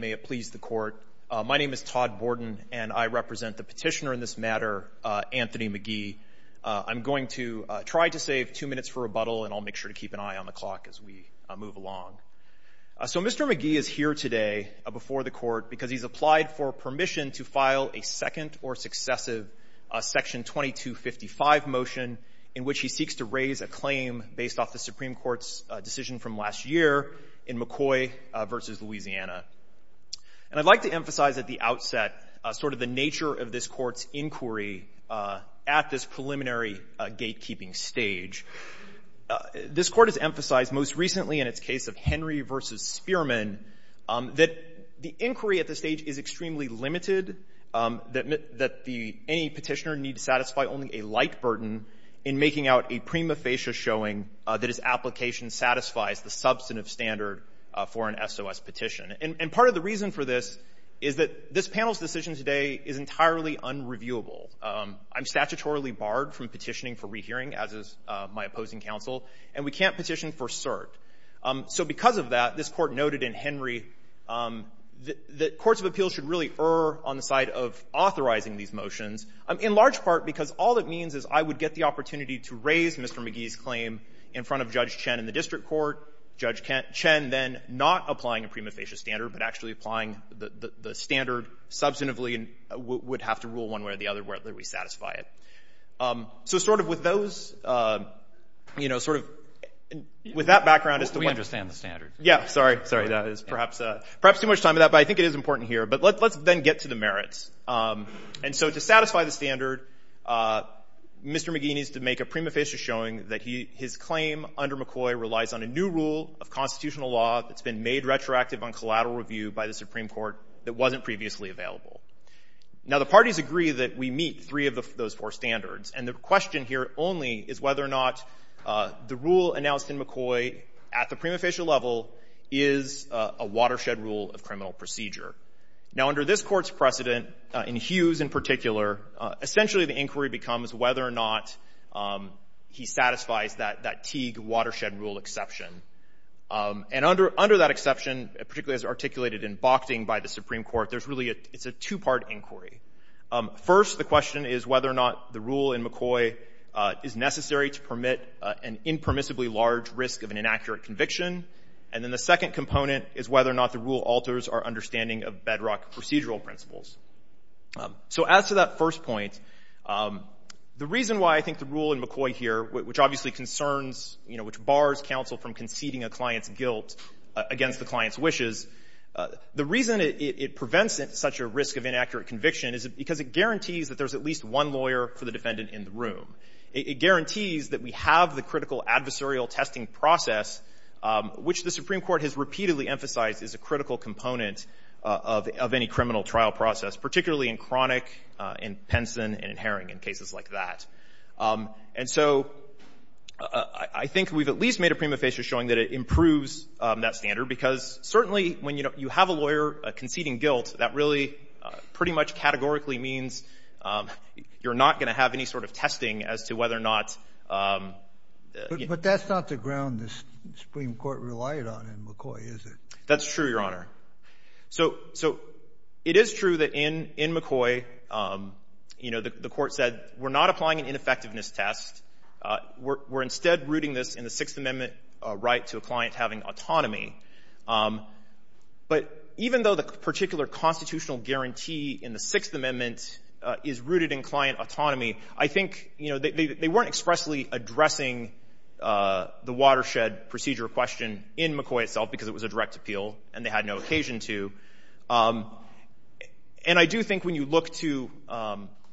May it please the Court. My name is Todd Borden, and I represent the petitioner in this matter, Anthony McGee. I'm going to try to save two minutes for rebuttal, and I'll make sure to keep an eye on the clock as we move along. So Mr. McGee is here today before the Court because he's applied for permission to file a second or successive Section 2255 motion in which he seeks to raise a claim based off the Supreme Court's decision from last year in McCoy v. Louisiana. And I'd like to emphasize at the outset sort of the nature of this Court's inquiry at this preliminary gatekeeping stage. This Court has emphasized most recently in its case of Henry v. Spearman that the inquiry at this stage is extremely limited, that the any petitioner need satisfy only a light burden in making out a prima facie showing that his application satisfies the substantive standard for an SOS petition. And part of the reason for this is that this panel's decision today is entirely unreviewable. I'm statutorily barred from petitioning for rehearing, as is my opposing counsel, and we can't petition for cert. So because of that, this Court noted in Henry that courts of appeals should really err on the side of authorizing these motions, in large part because all it means is I would get the opportunity to raise Mr. McGee's claim in front of Judge Chen in the district court, Judge Chen then not applying a prima facie standard, but actually applying the standard substantively and would have to rule one way or the other whether we satisfy it. So sort of with those, you know, sort of with that background as to why we understand the standard. Yeah. Sorry. Sorry. That is perhaps too much time on that, but I think it is important here. But let's then get to the merits. And so to satisfy the standard, Mr. McGee needs to make a prima facie showing that his claim under McCoy relies on a new rule of constitutional law that's been made retroactive on collateral review by the Supreme Court that wasn't previously available. Now, the parties agree that we meet three of those four standards, and the question here only is whether or not the rule announced in McCoy at the prima facie level is a watershed rule of criminal procedure. Now, under this Court's precedent, in Hughes in particular, essentially the inquiry becomes whether or not he satisfies that Teague watershed rule exception. And under that exception, particularly as articulated in Bochting by the Supreme Court, there's really a — it's a two-part inquiry. First, the question is whether or not the rule in McCoy is necessary to permit an impermissibly large risk of an inaccurate conviction. And then the second component is whether or not the rule alters our understanding of bedrock procedural principles. So as to that first point, the reason why I think the rule in McCoy here, which obviously concerns — you know, which bars counsel from conceding a client's guilt against the client's wishes, the reason it prevents such a risk of inaccurate conviction is because it guarantees that there's at least one lawyer for the defendant in the room. It guarantees that we have the critical adversarial testing process, which the Supreme Court has repeatedly emphasized is a critical component of any criminal trial process, particularly in Cronick and Penson and in Herring and cases like that. And so I think we've at least made a prima facie showing that it improves that standard because certainly when you have a lawyer conceding guilt, that really pretty much categorically means you're not going to have any sort of testing as to whether or not — Sotomayor But that's not the ground the Supreme Court relied on in McCoy, is it? Fisher That's true, Your Honor. So it is true that in McCoy, you know, the Court said we're not applying an ineffectiveness test. We're instead rooting this in the Sixth Amendment right to a client having autonomy. But even though the particular constitutional guarantee in the Sixth Amendment is rooted in client autonomy, I think, you know, they weren't expressly addressing the watershed procedure question in McCoy itself because it was a direct appeal and they had no occasion to. And I do think when you look to —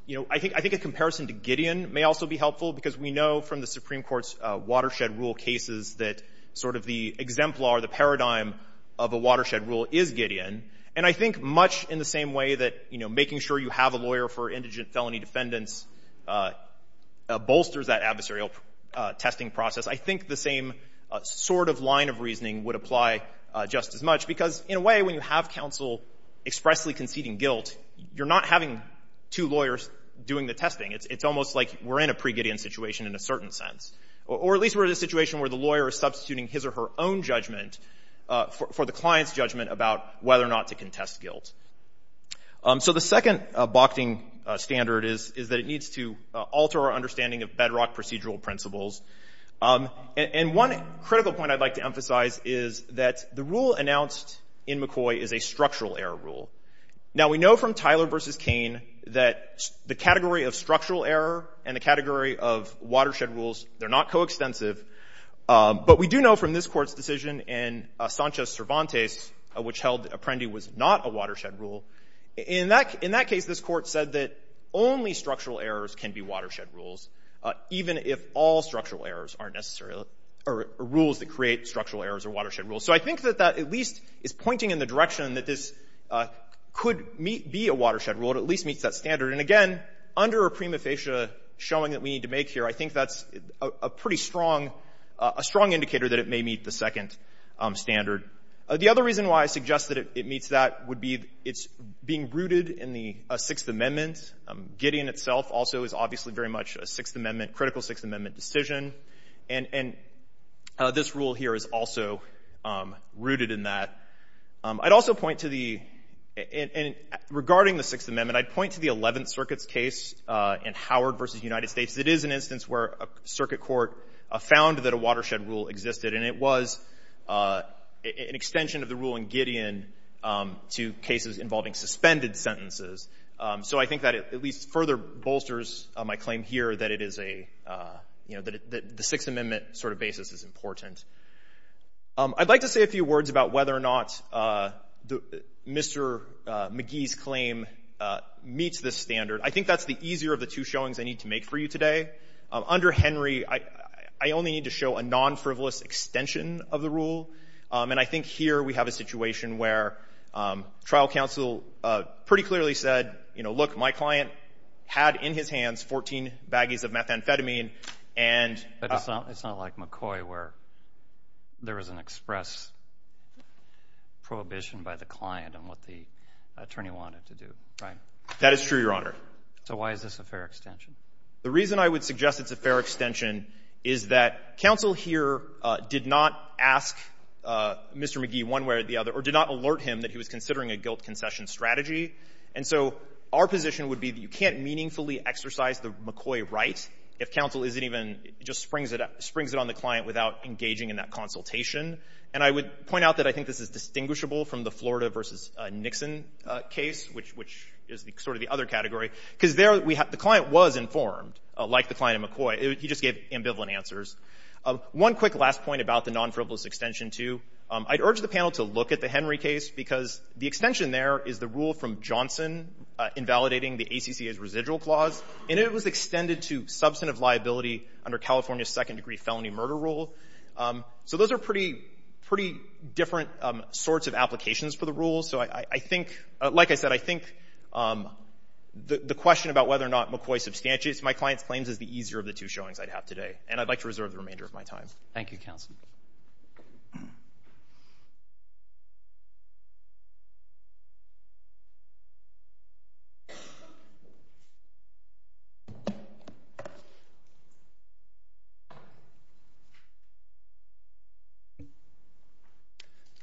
you know, I think a comparison to Gideon may also be helpful because we know from the Supreme Court's of a watershed rule is Gideon. And I think much in the same way that, you know, making sure you have a lawyer for indigent felony defendants bolsters that adversarial testing process. I think the same sort of line of reasoning would apply just as much because, in a way, when you have counsel expressly conceding guilt, you're not having two lawyers doing the testing. It's almost like we're in a pre-Gideon situation in a certain sense. Or at least we're in a situation where the lawyer is substituting his or her own judgment for the client's judgment about whether or not to contest guilt. So the second balking standard is that it needs to alter our understanding of bedrock procedural principles. And one critical point I'd like to emphasize is that the rule announced in McCoy is a structural error rule. Now, we know from Tyler v. Cain that the category of structural error and the category of watershed rules, they're not coextensive. But we do know from this Court's decision in Sanchez-Cervantes, which held Apprendi was not a watershed rule, in that case, this Court said that only structural errors can be watershed rules, even if all structural errors are rules that create structural errors or watershed rules. So I think that that at least is pointing in the direction that this could be a watershed rule. It at least meets that standard. And again, under a prima facie showing that we need to make here, I think that's a pretty strong indicator that it may meet the second standard. The other reason why I suggest that it meets that would be it's being rooted in the Sixth Amendment. Gideon itself also is obviously very much a Sixth Amendment, critical Sixth Amendment decision. And this rule here is also rooted in that. I'd also point to the—regarding the Sixth Amendment, I'd point to the Eleventh Circuit's case in Howard v. United States. It is an instance where a circuit court found that a watershed rule existed, and it was an extension of the rule in Gideon to cases involving suspended sentences. So I think that it at least further bolsters my claim here that it is a— that the Sixth Amendment sort of basis is important. I'd like to say a few words about whether or not Mr. McGee's claim meets this standard. I think that's the easier of the two showings I need to make for you today. Under Henry, I only need to show a non-frivolous extension of the rule. And I think here we have a situation where trial counsel pretty clearly said, you know, look, my client had in his hands 14 baggies of methamphetamine, and— there was an express prohibition by the client on what the attorney wanted to do, right? That is true, Your Honor. So why is this a fair extension? The reason I would suggest it's a fair extension is that counsel here did not ask Mr. McGee one way or the other or did not alert him that he was considering a guilt concession strategy. And so our position would be that you can't meaningfully exercise the McCoy right if counsel isn't even — just springs it on the client without engaging in that consultation. And I would point out that I think this is distinguishable from the Florida v. Nixon case, which is sort of the other category, because there we have — the client was informed, like the client in McCoy. He just gave ambivalent answers. One quick last point about the non-frivolous extension, too. I'd urge the panel to look at the Henry case, because the extension there is the rule from Johnson invalidating the ACCA's residual clause. And it was extended to substantive liability under California's second-degree felony murder rule. So those are pretty — pretty different sorts of applications for the rules. So I think — like I said, I think the question about whether or not McCoy substantiates my client's claims is the easier of the two showings I'd have today. And I'd like to reserve the remainder of my time. Thank you, counsel.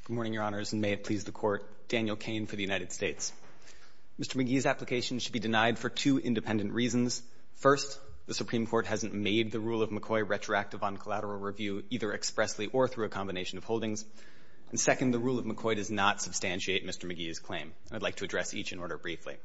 Good morning, Your Honors, and may it please the Court. Daniel Cain for the United States. Mr. McGee's application should be denied for two independent reasons. First, the Supreme Court hasn't made the rule of McCoy retroactive on collateral review, either expressly or through a combination of holdings. And second, the rule of McCoy does not substantiate Mr. McGee's claim. And I'd like to address each in order briefly.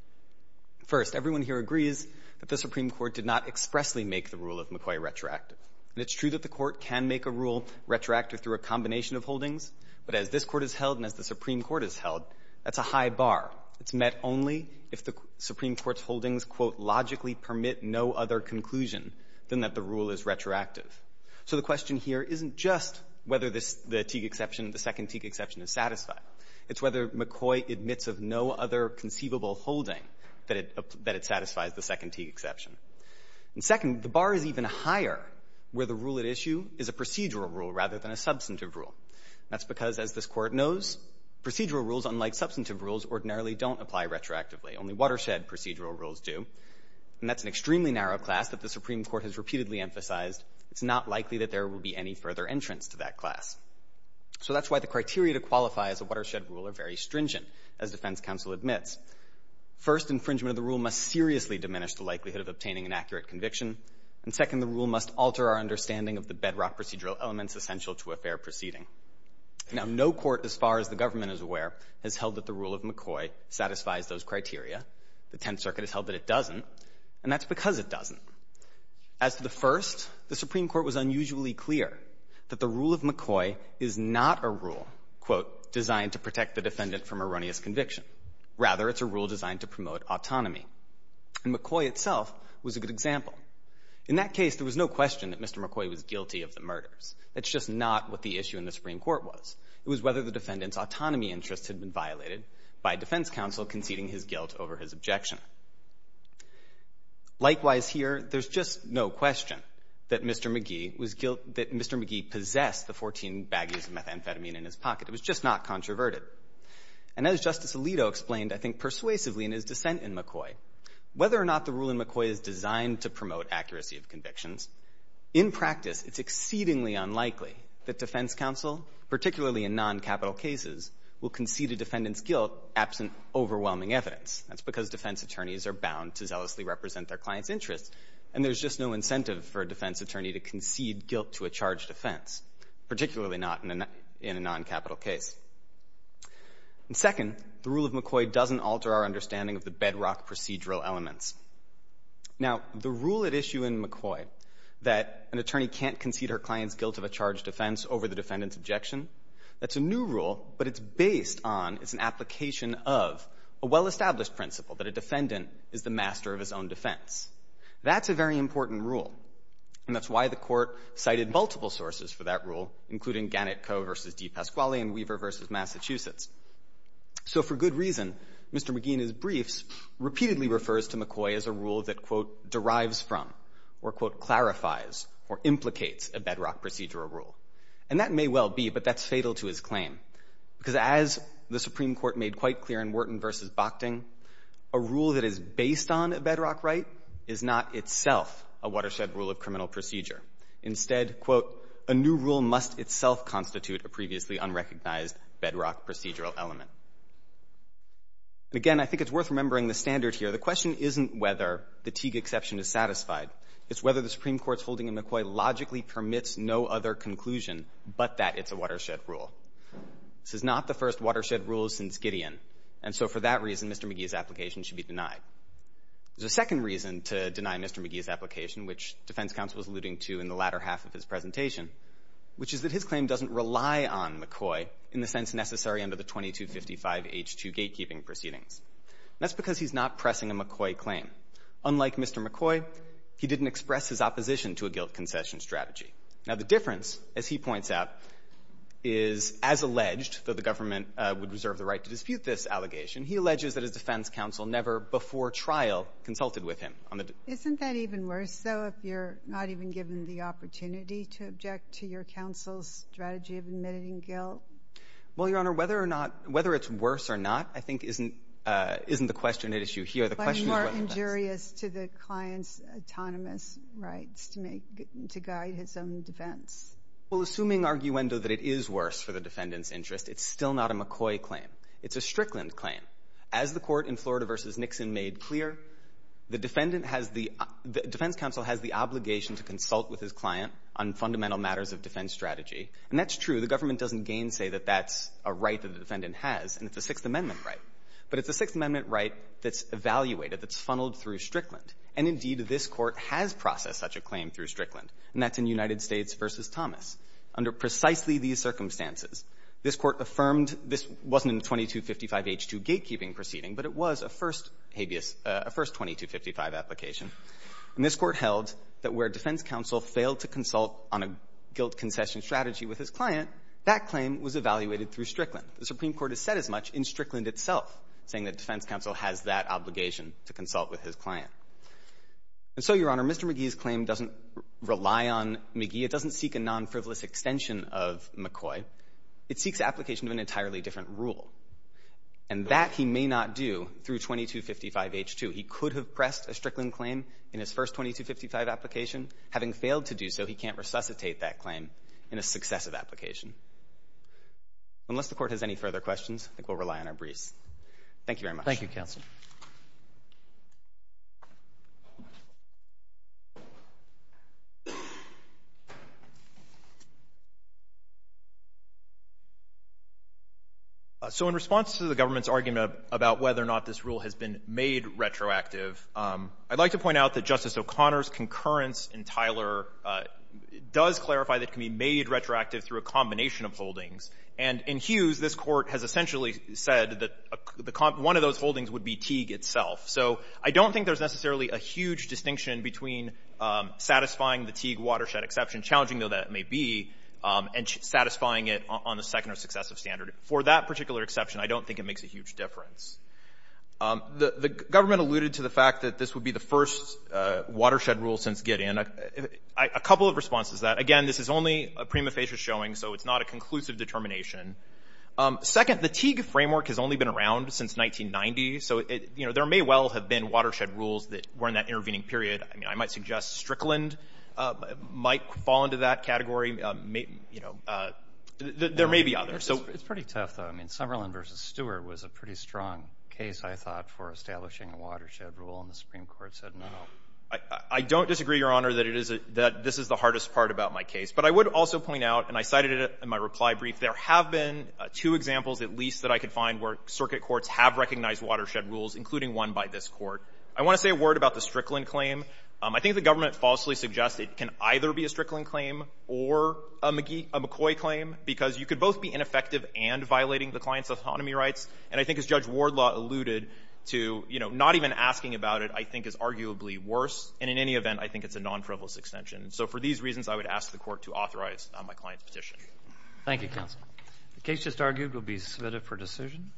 First, everyone here agrees that the Supreme Court did not expressly make the rule of McCoy retroactive. And it's true that the Court can make a rule retroactive through a combination of holdings. But as this Court has held and as the Supreme Court has held, that's a high bar. It's met only if the Supreme Court's holdings, quote, logically permit no other conclusion than that the rule is retroactive. So the question here isn't just whether this — the Teague exception, the second Teague exception is satisfied. It's whether McCoy admits of no other conceivable holding that it — that it satisfies the second Teague exception. And second, the bar is even higher where the rule at issue is a procedural rule rather than a substantive rule. That's because, as this Court knows, procedural rules, unlike substantive rules, ordinarily don't apply retroactively. Only watershed procedural rules do. And that's an extremely narrow class that the Supreme Court has repeatedly emphasized. It's not likely that there will be any further entrance to that class. So that's why the criteria to qualify as a watershed rule are very stringent, as defense counsel admits. First, infringement of the rule must seriously diminish the likelihood of obtaining an accurate conviction. And second, the rule must alter our understanding of the bedrock procedural elements essential to a fair proceeding. Now, no court, as far as the government is aware, has held that the rule of McCoy satisfies those criteria. The Tenth Circuit has held that it doesn't. And that's because it doesn't. As to the first, the Supreme Court was unusually clear that the rule of McCoy is not a rule, quote, designed to protect the defendant from erroneous conviction. Rather, it's a rule designed to promote autonomy. And McCoy itself was a good example. In that case, there was no question that Mr. McCoy was guilty of the murders. That's just not what the issue in the Supreme Court was. It was whether the defendant's autonomy interests had been violated by defense counsel conceding his guilt over his objection. Likewise here, there's just no question that Mr. McGee was guilt — that Mr. McGee possessed the 14 baggies of methamphetamine in his pocket. It was just not controverted. And as Justice Alito explained, I think persuasively in his dissent in McCoy, whether or not the rule in McCoy is designed to promote accuracy of convictions, in practice it's exceedingly unlikely that defense counsel, particularly in noncapital cases, will concede a defendant's guilt absent overwhelming evidence. That's because defense attorneys are bound to zealously represent their clients' interests. And there's just no incentive for a defense attorney to concede guilt to a charged offense, particularly not in a noncapital case. And second, the rule of McCoy doesn't alter our understanding of the bedrock procedural elements. Now, the rule at issue in McCoy, that an attorney can't concede her client's guilt of a charged offense over the defendant's objection, that's a new rule, but it's based on, it's an application of a well-established principle that a defendant is the master of his own defense. That's a very important rule. And that's why the Court cited multiple sources for that rule, including Gannett Coe v. DePasquale and Weaver v. Massachusetts. So for good reason, Mr. McGee in his briefs repeatedly refers to McCoy as a rule that, quote, derives from or, quote, clarifies or implicates a bedrock procedural rule. And that may well be, but that's fatal to his claim. Because as the Supreme Court made quite clear in Wharton v. Bochting, a rule that is based on a bedrock right is not itself a watershed rule of criminal procedure. Instead, quote, a new rule must itself constitute a previously unrecognized bedrock procedural element. And again, I think it's worth remembering the standard here. The question isn't whether the Teague exception is satisfied. It's whether the Supreme Court's holding in McCoy logically permits no other conclusion but that it's a watershed rule. This is not the first watershed rule since Gideon. And so for that reason, Mr. McGee's application should be denied. There's a second reason to deny Mr. McGee's application, which defense counsel was alluding to in the latter half of his presentation, which is that his claim doesn't rely on McCoy in the sense necessary under the 2255H2 gatekeeping proceedings. And that's because he's not pressing a McCoy claim. Unlike Mr. McCoy, he didn't express his opposition to a guilt concession strategy. Now, the difference, as he points out, is as alleged, though the government would reserve the right to dispute this allegation, he alleges that his defense counsel never before trial consulted with him. Isn't that even worse, though, if you're not even given the opportunity to object to your counsel's strategy of admitting guilt? Well, Your Honor, whether or not — whether it's worse or not I think isn't the question at issue here. The question is whether or not — It's way more injurious to the client's autonomous rights to make — to guide his own defense. Well, assuming arguendo that it is worse for the defendant's interest, it's still not a McCoy claim. It's a Strickland claim. As the Court in Florida v. Nixon made clear, the defendant has the — the defense counsel has the obligation to consult with his client on fundamental matters of defense strategy. And that's true. The government doesn't gainsay that that's a right that the defendant has, and it's a Sixth Amendment right. But it's a Sixth Amendment right that's evaluated, that's funneled through Strickland. And indeed, this Court has processed such a claim through Strickland, and that's in United States v. Thomas. Under precisely these circumstances, this Court affirmed this wasn't a 2255H2 gatekeeping proceeding, but it was a first habeas — a first 2255 application. And this Court held that where defense counsel failed to consult on a guilt concession strategy with his client, that claim was evaluated through Strickland. The Supreme Court has said as much in Strickland itself, saying that defense counsel has that obligation to consult with his client. And so, Your Honor, Mr. McGee's claim doesn't rely on McGee. It doesn't seek a nonfrivolous extension of McCoy. It seeks application of an entirely different rule. And that he may not do through 2255H2. He could have pressed a Strickland claim in his first 2255 application. Having failed to do so, he can't resuscitate that claim in a successive application. Unless the Court has any further questions, I think we'll rely on our briefs. Thank you very much. Thank you, counsel. So in response to the government's argument about whether or not this rule has been made retroactive, I'd like to point out that Justice O'Connor's concurrence in Tyler does clarify that it can be made retroactive through a combination of holdings. And in Hughes, this Court has essentially said that one of those holdings would be Teague itself. So I don't think there's necessarily a huge distinction between satisfying the Teague watershed exception, challenging though that may be, and satisfying it on the second or successive standard. For that particular exception, I don't think it makes a huge difference. The government alluded to the fact that this would be the first watershed rule since Gideon. A couple of responses to that. Again, this is only a prima facie showing, so it's not a conclusive determination. Second, the Teague framework has only been around since 1990, so there may well have been watershed rules that were in that intervening period. I mean, I might suggest Strickland might fall into that category. There may be others. It's pretty tough, though. I mean, Summerlin v. Stewart was a pretty strong case, I thought, for establishing a watershed rule, and the Supreme Court said no. I don't disagree, Your Honor, that it is a — that this is the hardest part about my case, but I would also point out, and I cited it in my reply brief, there have been two examples at least that I could find where circuit courts have recognized watershed rules, including one by this Court. I want to say a word about the Strickland claim. I think the government falsely suggests it can either be a Strickland claim or a McCoy claim, because you could both be ineffective and violating the client's autonomy rights, and I think as Judge Wardlaw alluded to, you know, not even asking about it I think is arguably worse, and in any event, I think it's a non-frivolous extension. So for these reasons, I would ask the Court to authorize my client's petition. Thank you, counsel. The case just argued will be submitted for decision.